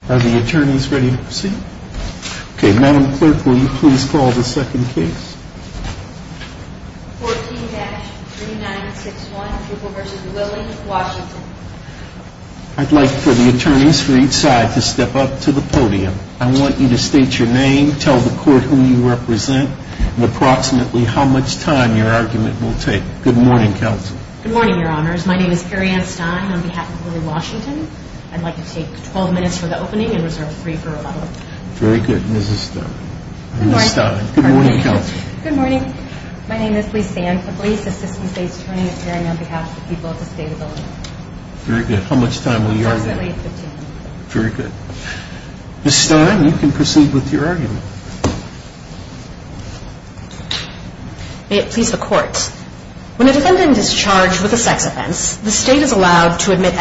I'd like for the attorneys for each side to step up to the podium. I want you to state your name, tell the court who you represent, and approximately how much time your argument will take. Good morning, counsel. Good morning, Your Honors. My name is Perianne Stein on behalf of Willie Washington. I'd like to take 12 minutes for the opening and reserve three for rebuttal. Very good, Mrs. Stein. Good morning. Good morning, counsel. Good morning. My name is Lysanne Fablice, assistant state attorney at Perianne on behalf of the people of the state of Illinois. Very good. How much time will you argue? Approximately 15 minutes. Very good. Mrs. Stein, you can proceed with your argument. May it please the court. When a defendant is charged with a sex offense, the state is allowed to testify to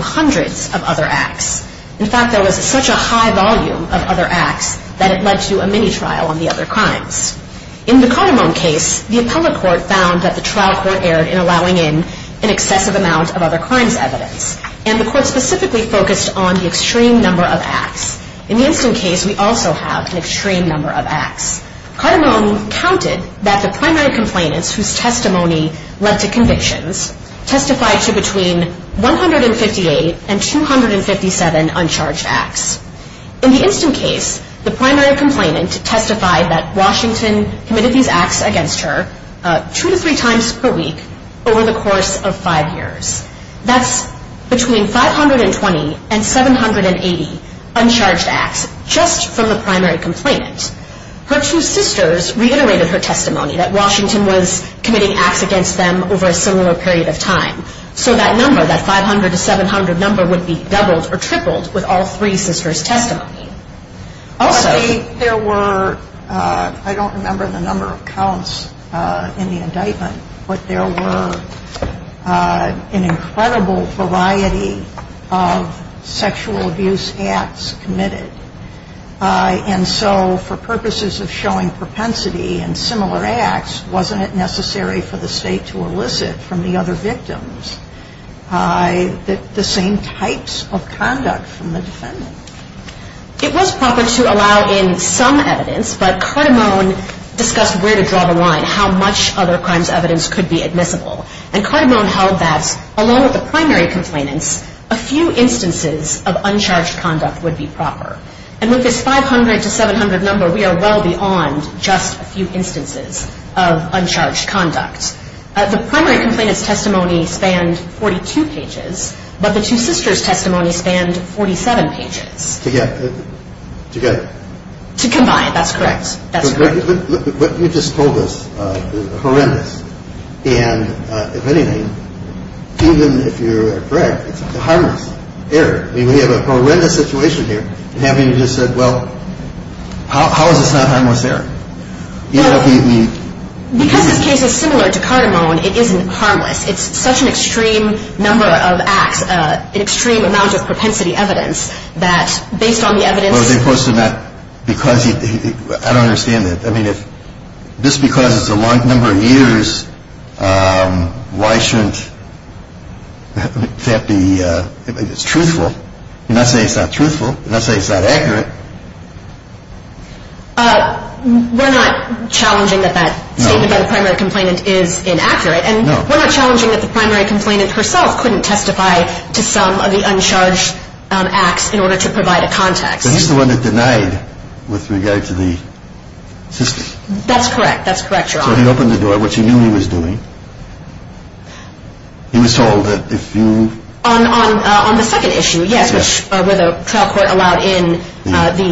hundreds of other acts. In fact, there was such a high volume of other acts that it led to a mini-trial on the other crimes. In the Cardamom case, the appellate court found that the trial court erred in allowing in an excessive amount of other crimes evidence, and the court specifically focused on the extreme number of acts. In the Instant case, we also have an extreme number of acts. Cardamom counted that the primary complainants whose testimony led to convictions testified to between 158 and 257 uncharged acts. In the Instant case, the primary complainant testified that Washington committed these acts against her two to three times per week over the course of five years. That's between 520 and 780 uncharged acts just from the primary complainant. Her two sisters reiterated her testimony that Washington was committing acts against them over a similar period of time. So that number, that 500 to 700 number, would be doubled or tripled with all three sisters' testimony. But there were, I don't remember the number of counts in the indictment, but there were an incredible variety of sexual abuse acts committed. And so for purposes of showing propensity in similar acts, wasn't it necessary for the state to elicit from the other victims the same types of conduct from the defendant? It was proper to allow in some evidence, but Cardamom discussed where to draw the line, how much other crimes evidence could be admissible. And Cardamom held that along with the primary complainants, a few instances of uncharged conduct would be proper. And with this 500 to 700 number, we are well beyond just a few instances of uncharged conduct. The primary complainant's testimony spanned 42 pages, but the two sisters' testimony spanned 47 pages. To get? To combine. That's correct. That's correct. What you just told us is horrendous. And if anything, even if you're correct, it's a harmless error. I mean, we have a horrendous situation here, and having you just said, well, how is this not harmless error? Because this case is similar to Cardamom, it isn't harmless. It's such an extreme number of acts, an extreme amount of propensity evidence, that based on the evidence I don't understand that. I mean, just because it's a large number of years, why shouldn't that be truthful? You're not saying it's not truthful. You're not saying it's not accurate. We're not challenging that that statement by the primary complainant is inaccurate. And we're not challenging that the primary complainant herself couldn't testify to some of the with regard to the sister. That's correct. That's correct, Your Honor. So he opened the door, which he knew he was doing. He was told that if you On the second issue, yes, where the trial court allowed in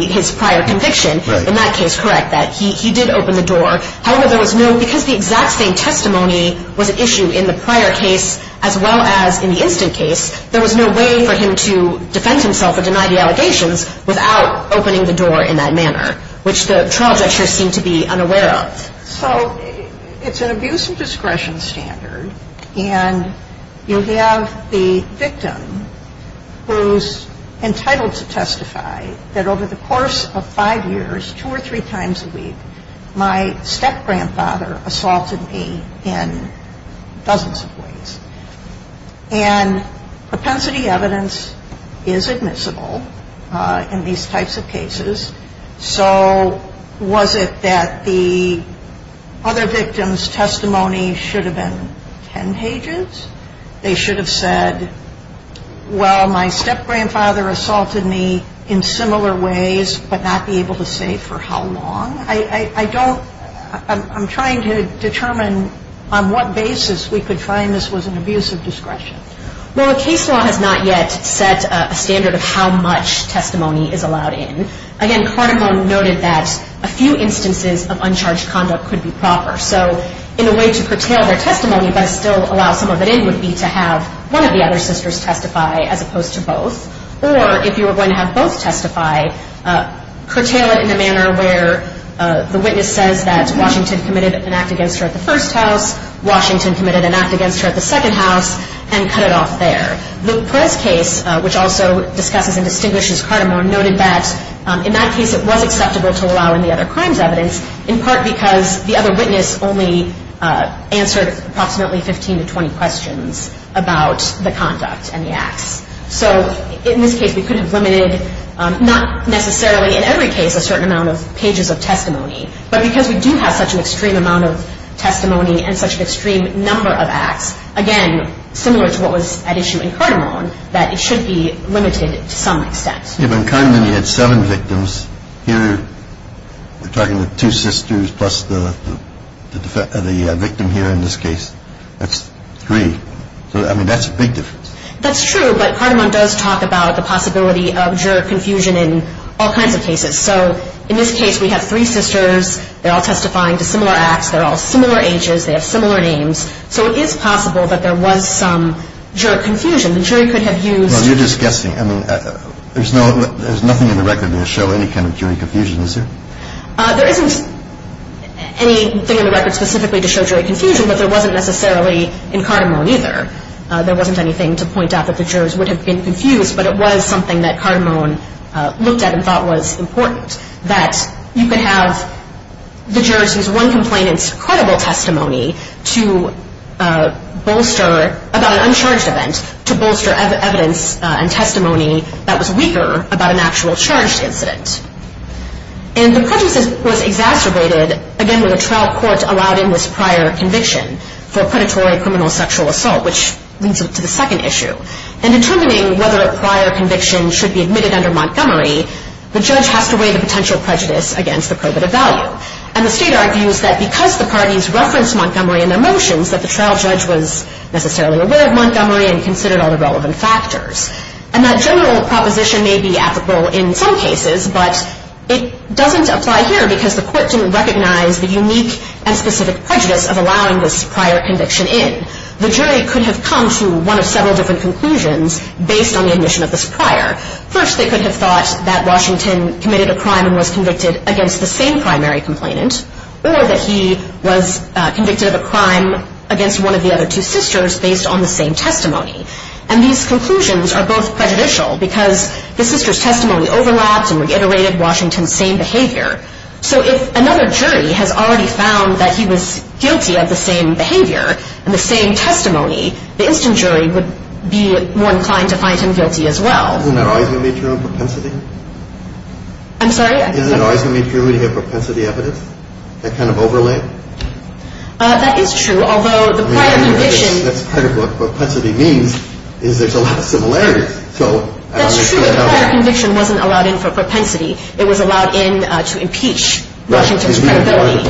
his prior conviction, in that case, correct, that he did open the door. However, there was no, because the exact same testimony was an issue in the prior case as well as in the instant case, there was no way for him to defend himself or deny the allegations without opening the door in that manner, which the trial judges seem to be unaware of. So it's an abuse of discretion standard, and you have the victim who's entitled to testify that over the course of five years, two or three times a week, my step-grandfather assaulted me in dozens of ways. And propensity evidence is admissible in these types of cases. So was it that the other victim's testimony should have been ten pages? They should have said, well, my step-grandfather assaulted me in similar ways but not be able to say for how long. I don't, I'm trying to determine on what basis we could find this was an abuse of discretion. Well, the case law has not yet set a standard of how much testimony is allowed in. Again, Cardamone noted that a few instances of uncharged conduct could be proper. So in a way to curtail their testimony but still allow some of it in would be to have one of the other sisters testify as opposed to both, or if you were going to have both testify, curtail it in a manner where the witness says that Washington committed an act against her at the first house, Washington committed an act against her at the second house, and cut it off there. The Perez case, which also discusses and distinguishes Cardamone, noted that in that case it was acceptable to allow any other crimes evidence, in part because the other witness only answered approximately 15 to 20 questions about the conduct and the acts. So in this case we could have limited, not necessarily in every case a certain amount of pages of testimony, but because we do have such an extreme amount of testimony and such an extreme number of acts, again, similar to what was at issue in Cardamone, that it should be limited to some extent. If in Condon you had seven victims, here we're talking about two sisters plus the victim here in this case, that's three. I mean, that's a big difference. That's true, but Cardamone does talk about the possibility of juror confusion in all kinds of cases. So in this case we have three sisters, they're all testifying to similar acts, they're all similar ages, they have similar names, so it is possible that there was some juror confusion. The jury could have used... No, you're just guessing. I mean, there's nothing in the record to show any kind of jury confusion, is there? There isn't anything in the record specifically to show jury confusion, but there wasn't necessarily in Cardamone either. There wasn't anything to point out that the jurors would have been confused, but it was something that Cardamone looked at and thought was important, that you could have the jurors use one complainant's credible testimony to bolster, about an uncharged event, to bolster evidence and testimony that was weaker about an actual charged incident. And the prejudice was exacerbated, again, when the trial court allowed in this prior conviction for predatory criminal sexual assault, which leads up to the second issue. In determining whether a prior conviction should be admitted under Montgomery, the judge has to weigh the potential prejudice against the probative value. And the state argues that because the parties referenced Montgomery in their motions, that the trial judge was necessarily aware of Montgomery and considered all the relevant factors. And that general proposition may be applicable in some cases, but it doesn't apply here because the court didn't recognize the unique and specific prejudice of allowing this prior conviction in. The jury could have come to one of several different conclusions based on the admission of this prior. First, they could have thought that Washington committed a crime and was convicted against the same primary complainant, or that he was convicted of a crime against one of the other two sisters based on the same testimony. And these conclusions are both prejudicial because the sister's testimony overlaps and reiterated Washington's same behavior. So if another jury has already found that he was guilty of the same behavior and the same testimony, the instant jury would be more inclined to find him guilty as well. Isn't that always going to be true in propensity? I'm sorry? Isn't it always going to be true when you have propensity evidence? That kind of overlay? That is true, although the prior conviction. That's part of what propensity means, is there's a lot of similarities. That's true, the prior conviction wasn't allowed in for propensity. It was allowed in to impeach Washington's credibility.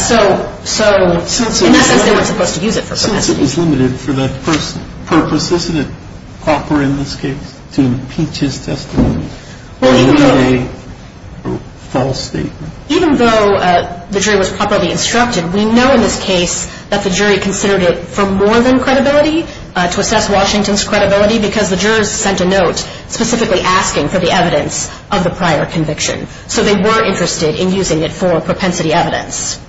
So in that sense, they weren't supposed to use it for propensity. Since it was limited for that purpose, isn't it proper in this case to impeach his testimony? Even though the jury was properly instructed, we know in this case that the jury considered it for more than credibility, to assess Washington's credibility, because the jurors sent a note specifically asking for the evidence of the prior conviction. So they were interested in using it for propensity evidence.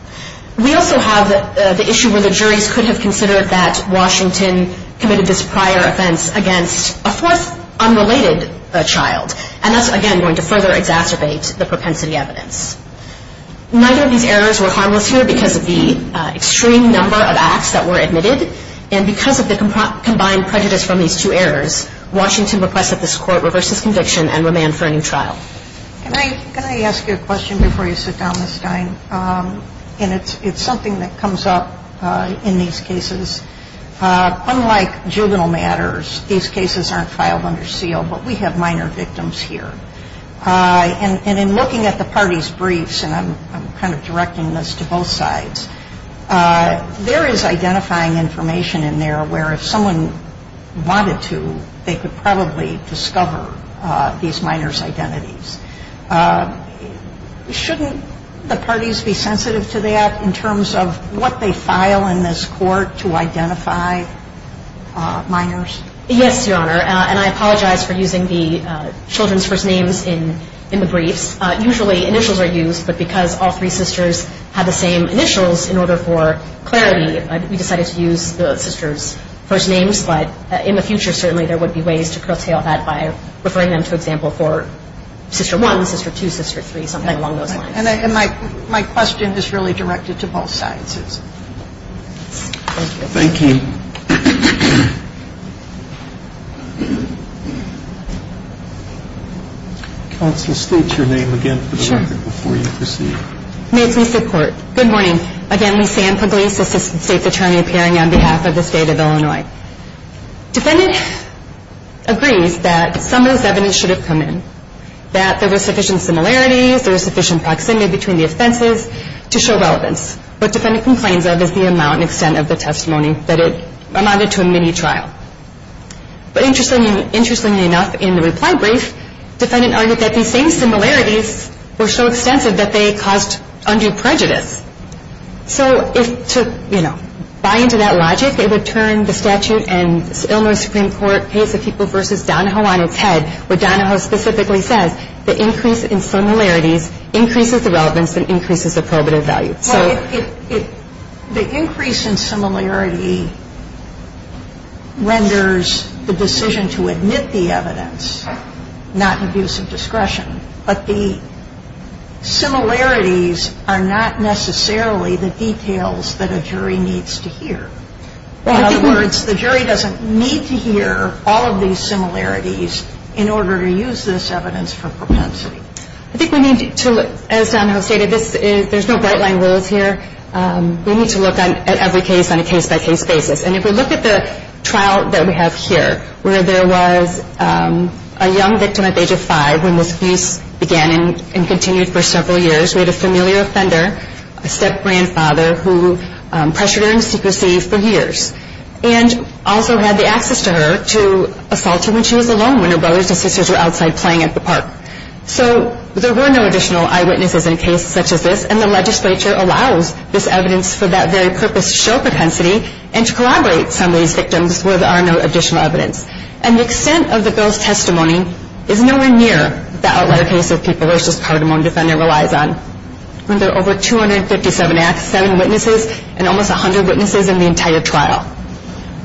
We also have the issue where the juries could have considered that Washington committed this prior offense against a fourth unrelated child. And that's, again, going to further exacerbate the propensity evidence. Neither of these errors were harmless here because of the extreme number of acts that were admitted. And because of the combined prejudice from these two errors, Washington requested that this Court reverse his conviction and remand for a new trial. Can I ask you a question before you sit down, Ms. Stein? And it's something that comes up in these cases. Unlike juvenile matters, these cases aren't filed under seal, but we have minor victims here. And in looking at the parties' briefs, and I'm kind of directing this to both sides, there is identifying information in there where if someone wanted to, you know, identify a minor or a minor, they would be able to use the children's first names. Shouldn't the parties be sensitive to that in terms of what they file in this Court to identify minors? Yes, Your Honor. And I apologize for using the children's first names in the briefs. Usually initials are used, but because all three sisters had the same initials, in order for clarity, we decided to use the sisters' first names. But in the future, certainly, there would be ways to curtail that by referring them, for example, for Sister 1, Sister 2, Sister 3, something along those lines. And my question is really directed to both sides. Thank you. Counsel, state your name again for the record before you proceed. Mason City Court. Good morning. Again, Lisanne Pugliese, Assistant State's Attorney, appearing on behalf of the State of Illinois. Defendant agrees that some of this evidence should have come in, that there were sufficient similarities, there was sufficient proximity between the offenses to show relevance. What defendant complains of is the amount and extent of the testimony that it amounted to a mini-trial. But interestingly enough, in the reply brief, defendant argued that these same similarities were so extensive that they caused undue prejudice. So if to, you know, buy into that logic, it would turn the statute and Illinois Supreme Court case of People v. Donahoe on its head, where Donahoe specifically says the increase in similarities increases the relevance and increases the probative value. The increase in similarity renders the decision to admit the evidence not in abuse of discretion. But the similarities are not necessarily the details that a jury needs to hear. In other words, the jury doesn't need to hear all of these similarities in order to use this evidence for propensity. I think we need to, as Donahoe stated, there's no bright-line rules here. We need to look at every case on a case-by-case basis. And if we look at the trial that we have here, where there was a young victim at the age of five, when this abuse began and continued for several years, we had a familiar offender, a step-grandfather, who pressured her into secrecy for years and also had the access to her to assault her when she was alone, when her brothers and sisters were outside playing at the park. So there were no additional eyewitnesses in a case such as this, and the legislature allows this evidence for that very purpose to show propensity and to corroborate some of these victims where there are no additional evidence. And the extent of the girl's testimony is nowhere near the outlier case of people, which this cardamom defendant relies on. Under over 257 acts, seven witnesses, and almost 100 witnesses in the entire trial,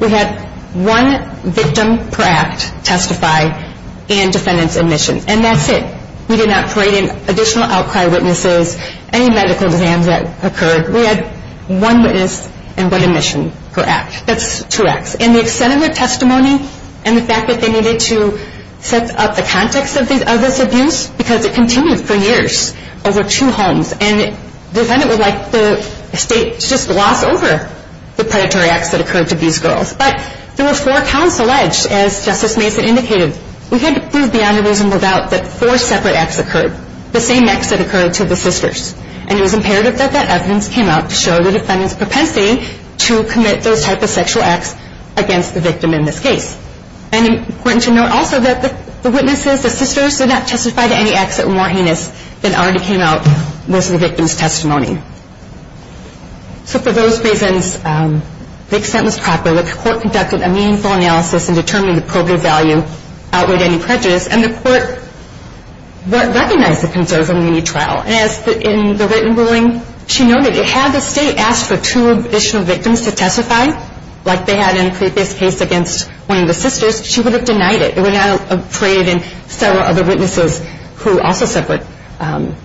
we had one victim per act testify and defendants admission. And that's it. We did not parade in additional outcry witnesses, any medical exams that occurred. We had one witness and one admission per act. That's two acts. And the extent of their testimony and the fact that they needed to set up the context of this abuse, because it continued for years over two homes, and the defendant would like the state to just gloss over the predatory acts that occurred to these girls. But there were four counts alleged, as Justice Mason indicated. We had to prove beyond a reasonable doubt that four separate acts occurred, the same acts that occurred to the sisters. And it was imperative that that evidence came out to show the defendant's propensity to commit those type of sexual acts against the victim in this case. And important to note also that the witnesses, the sisters, did not testify to any acts that were more heinous than already came out most of the victim's testimony. So for those reasons, the extent was proper. The court conducted a meaningful analysis in determining the probative value outweighed any prejudice, and the court recognized the concerns in the mini-trial. And as in the written ruling, she noted, had the state asked for two additional victims to testify, like they had in a previous case against one of the sisters, she would have denied it. It would not have paraded in several other witnesses who also suffered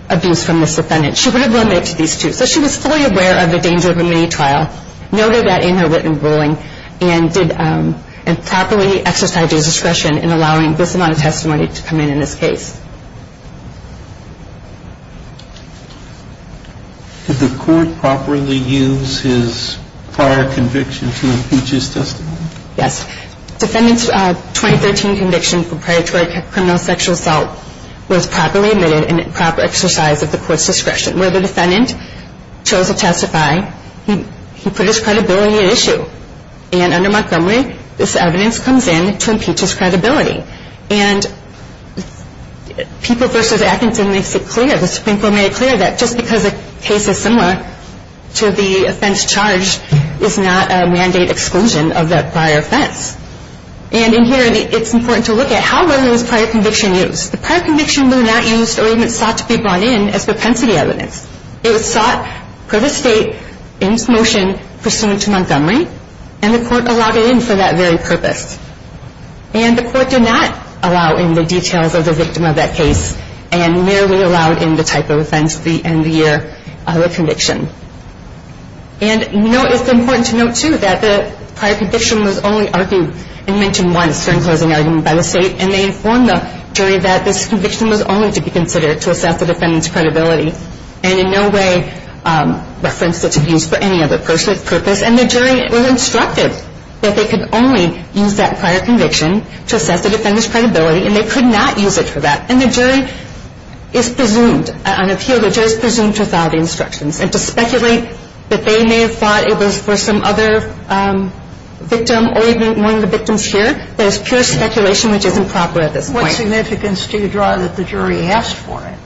abuse from this defendant. She would have limited it to these two. So she was fully aware of the danger of a mini-trial, noted that in her written ruling, and properly exercised her discretion in allowing this amount of testimony to come in in this case. Did the court properly use his prior convictions in the Peaches testimony? Yes. Defendant's 2013 conviction for predatory criminal sexual assault was properly admitted and proper exercise of the court's discretion. Where the defendant chose to testify, he put his credibility at issue. And under Montgomery, this evidence comes in to impeach his credibility. And People v. Atkinson makes it clear, the Supreme Court made it clear, that just because a case is similar to the offense charged, is not a mandate exclusion of that prior offense. And in here, it's important to look at how well was prior conviction used. The prior conviction was not used or even sought to be brought in as propensity evidence. It was sought for the state in its motion pursuant to Montgomery, and the court allowed it in for that very purpose. And the court did not allow in the details of the victim of that case, and merely allowed in the type of offense at the end of the year of the conviction. And it's important to note, too, that the prior conviction was only argued and mentioned once during closing argument by the state, and they informed the jury that this conviction was only to be considered to assess the defendant's credibility. And in no way referenced it to be used for any other purpose. And the jury was instructed that they could only use that prior conviction to assess the defendant's credibility, and they could not use it for that. And the jury is presumed, on appeal, the jury is presumed to have followed the instructions. And to speculate that they may have thought it was for some other victim, or even one of the victims here, that is pure speculation, which is improper at this point. What significance do you draw that the jury asked for it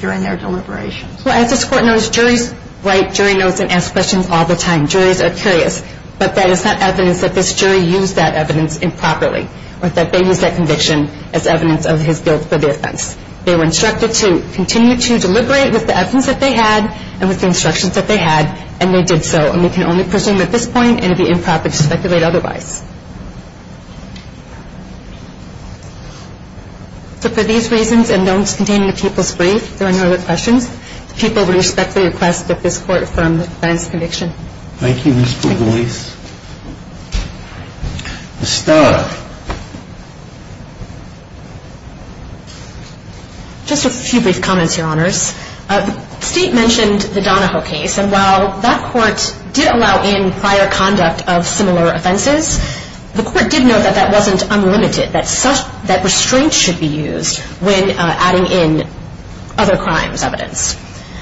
during their deliberations? Well, as this Court knows, juries write jury notes and ask questions all the time. Juries are curious. But that is not evidence that this jury used that evidence improperly, or that they used that conviction as evidence of his guilt for the offense. They were instructed to continue to deliberate with the evidence that they had and with the instructions that they had, and they did so. And we can only presume at this point, and it would be improper to speculate otherwise. So for these reasons, and notes containing the people's brief, if there are no other questions, the people respectfully request that this Court affirm the defendant's conviction. Thank you, Ms. Pugliese. Thank you. Ms. Starr. Just a few brief comments, Your Honors. Steve mentioned the Donahoe case, and while that Court did allow in prior conduct of similar offenses, the Court did note that that wasn't unlimited, that restraint should be used when adding in other crimes' evidence.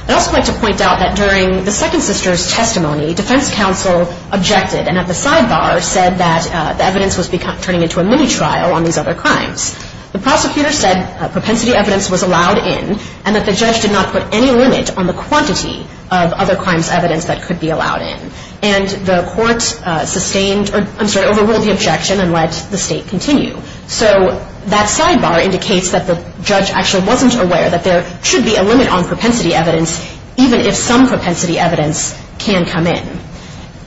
I'd also like to point out that during the second sister's testimony, defense counsel objected and at the sidebar said that the evidence was turning into a mini-trial on these other crimes. The prosecutor said propensity evidence was allowed in, and that the judge did not put any limit on the quantity of other crimes' evidence that could be allowed in. And the Court sustained or, I'm sorry, overruled the objection and let the State continue. So that sidebar indicates that the judge actually wasn't aware that there should be a limit on propensity evidence, even if some propensity evidence can come in.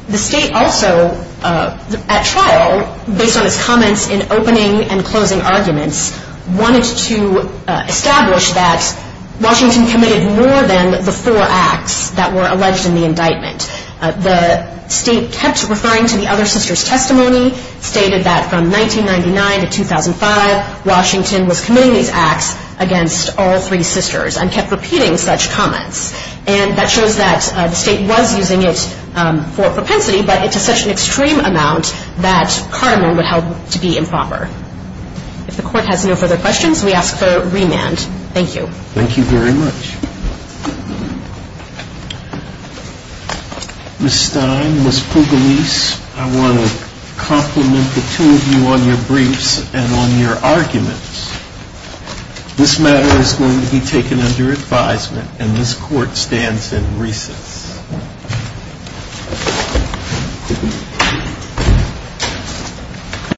The State also, at trial, based on its comments in opening and closing arguments, wanted to establish that Washington committed more than the four acts that were alleged in the indictment. The State kept referring to the other sister's testimony, stated that from 1999 to 2005, Washington was committing these acts against all three sisters, and kept repeating such comments. And that shows that the State was using it for propensity, but to such an extreme amount that Cardamom would help to be improper. If the Court has no further questions, we ask for remand. Thank you. Thank you very much. Ms. Stein, Ms. Pugliese, I want to compliment the two of you on your briefs and on your arguments. This matter is going to be taken under advisement, and this Court stands in recess.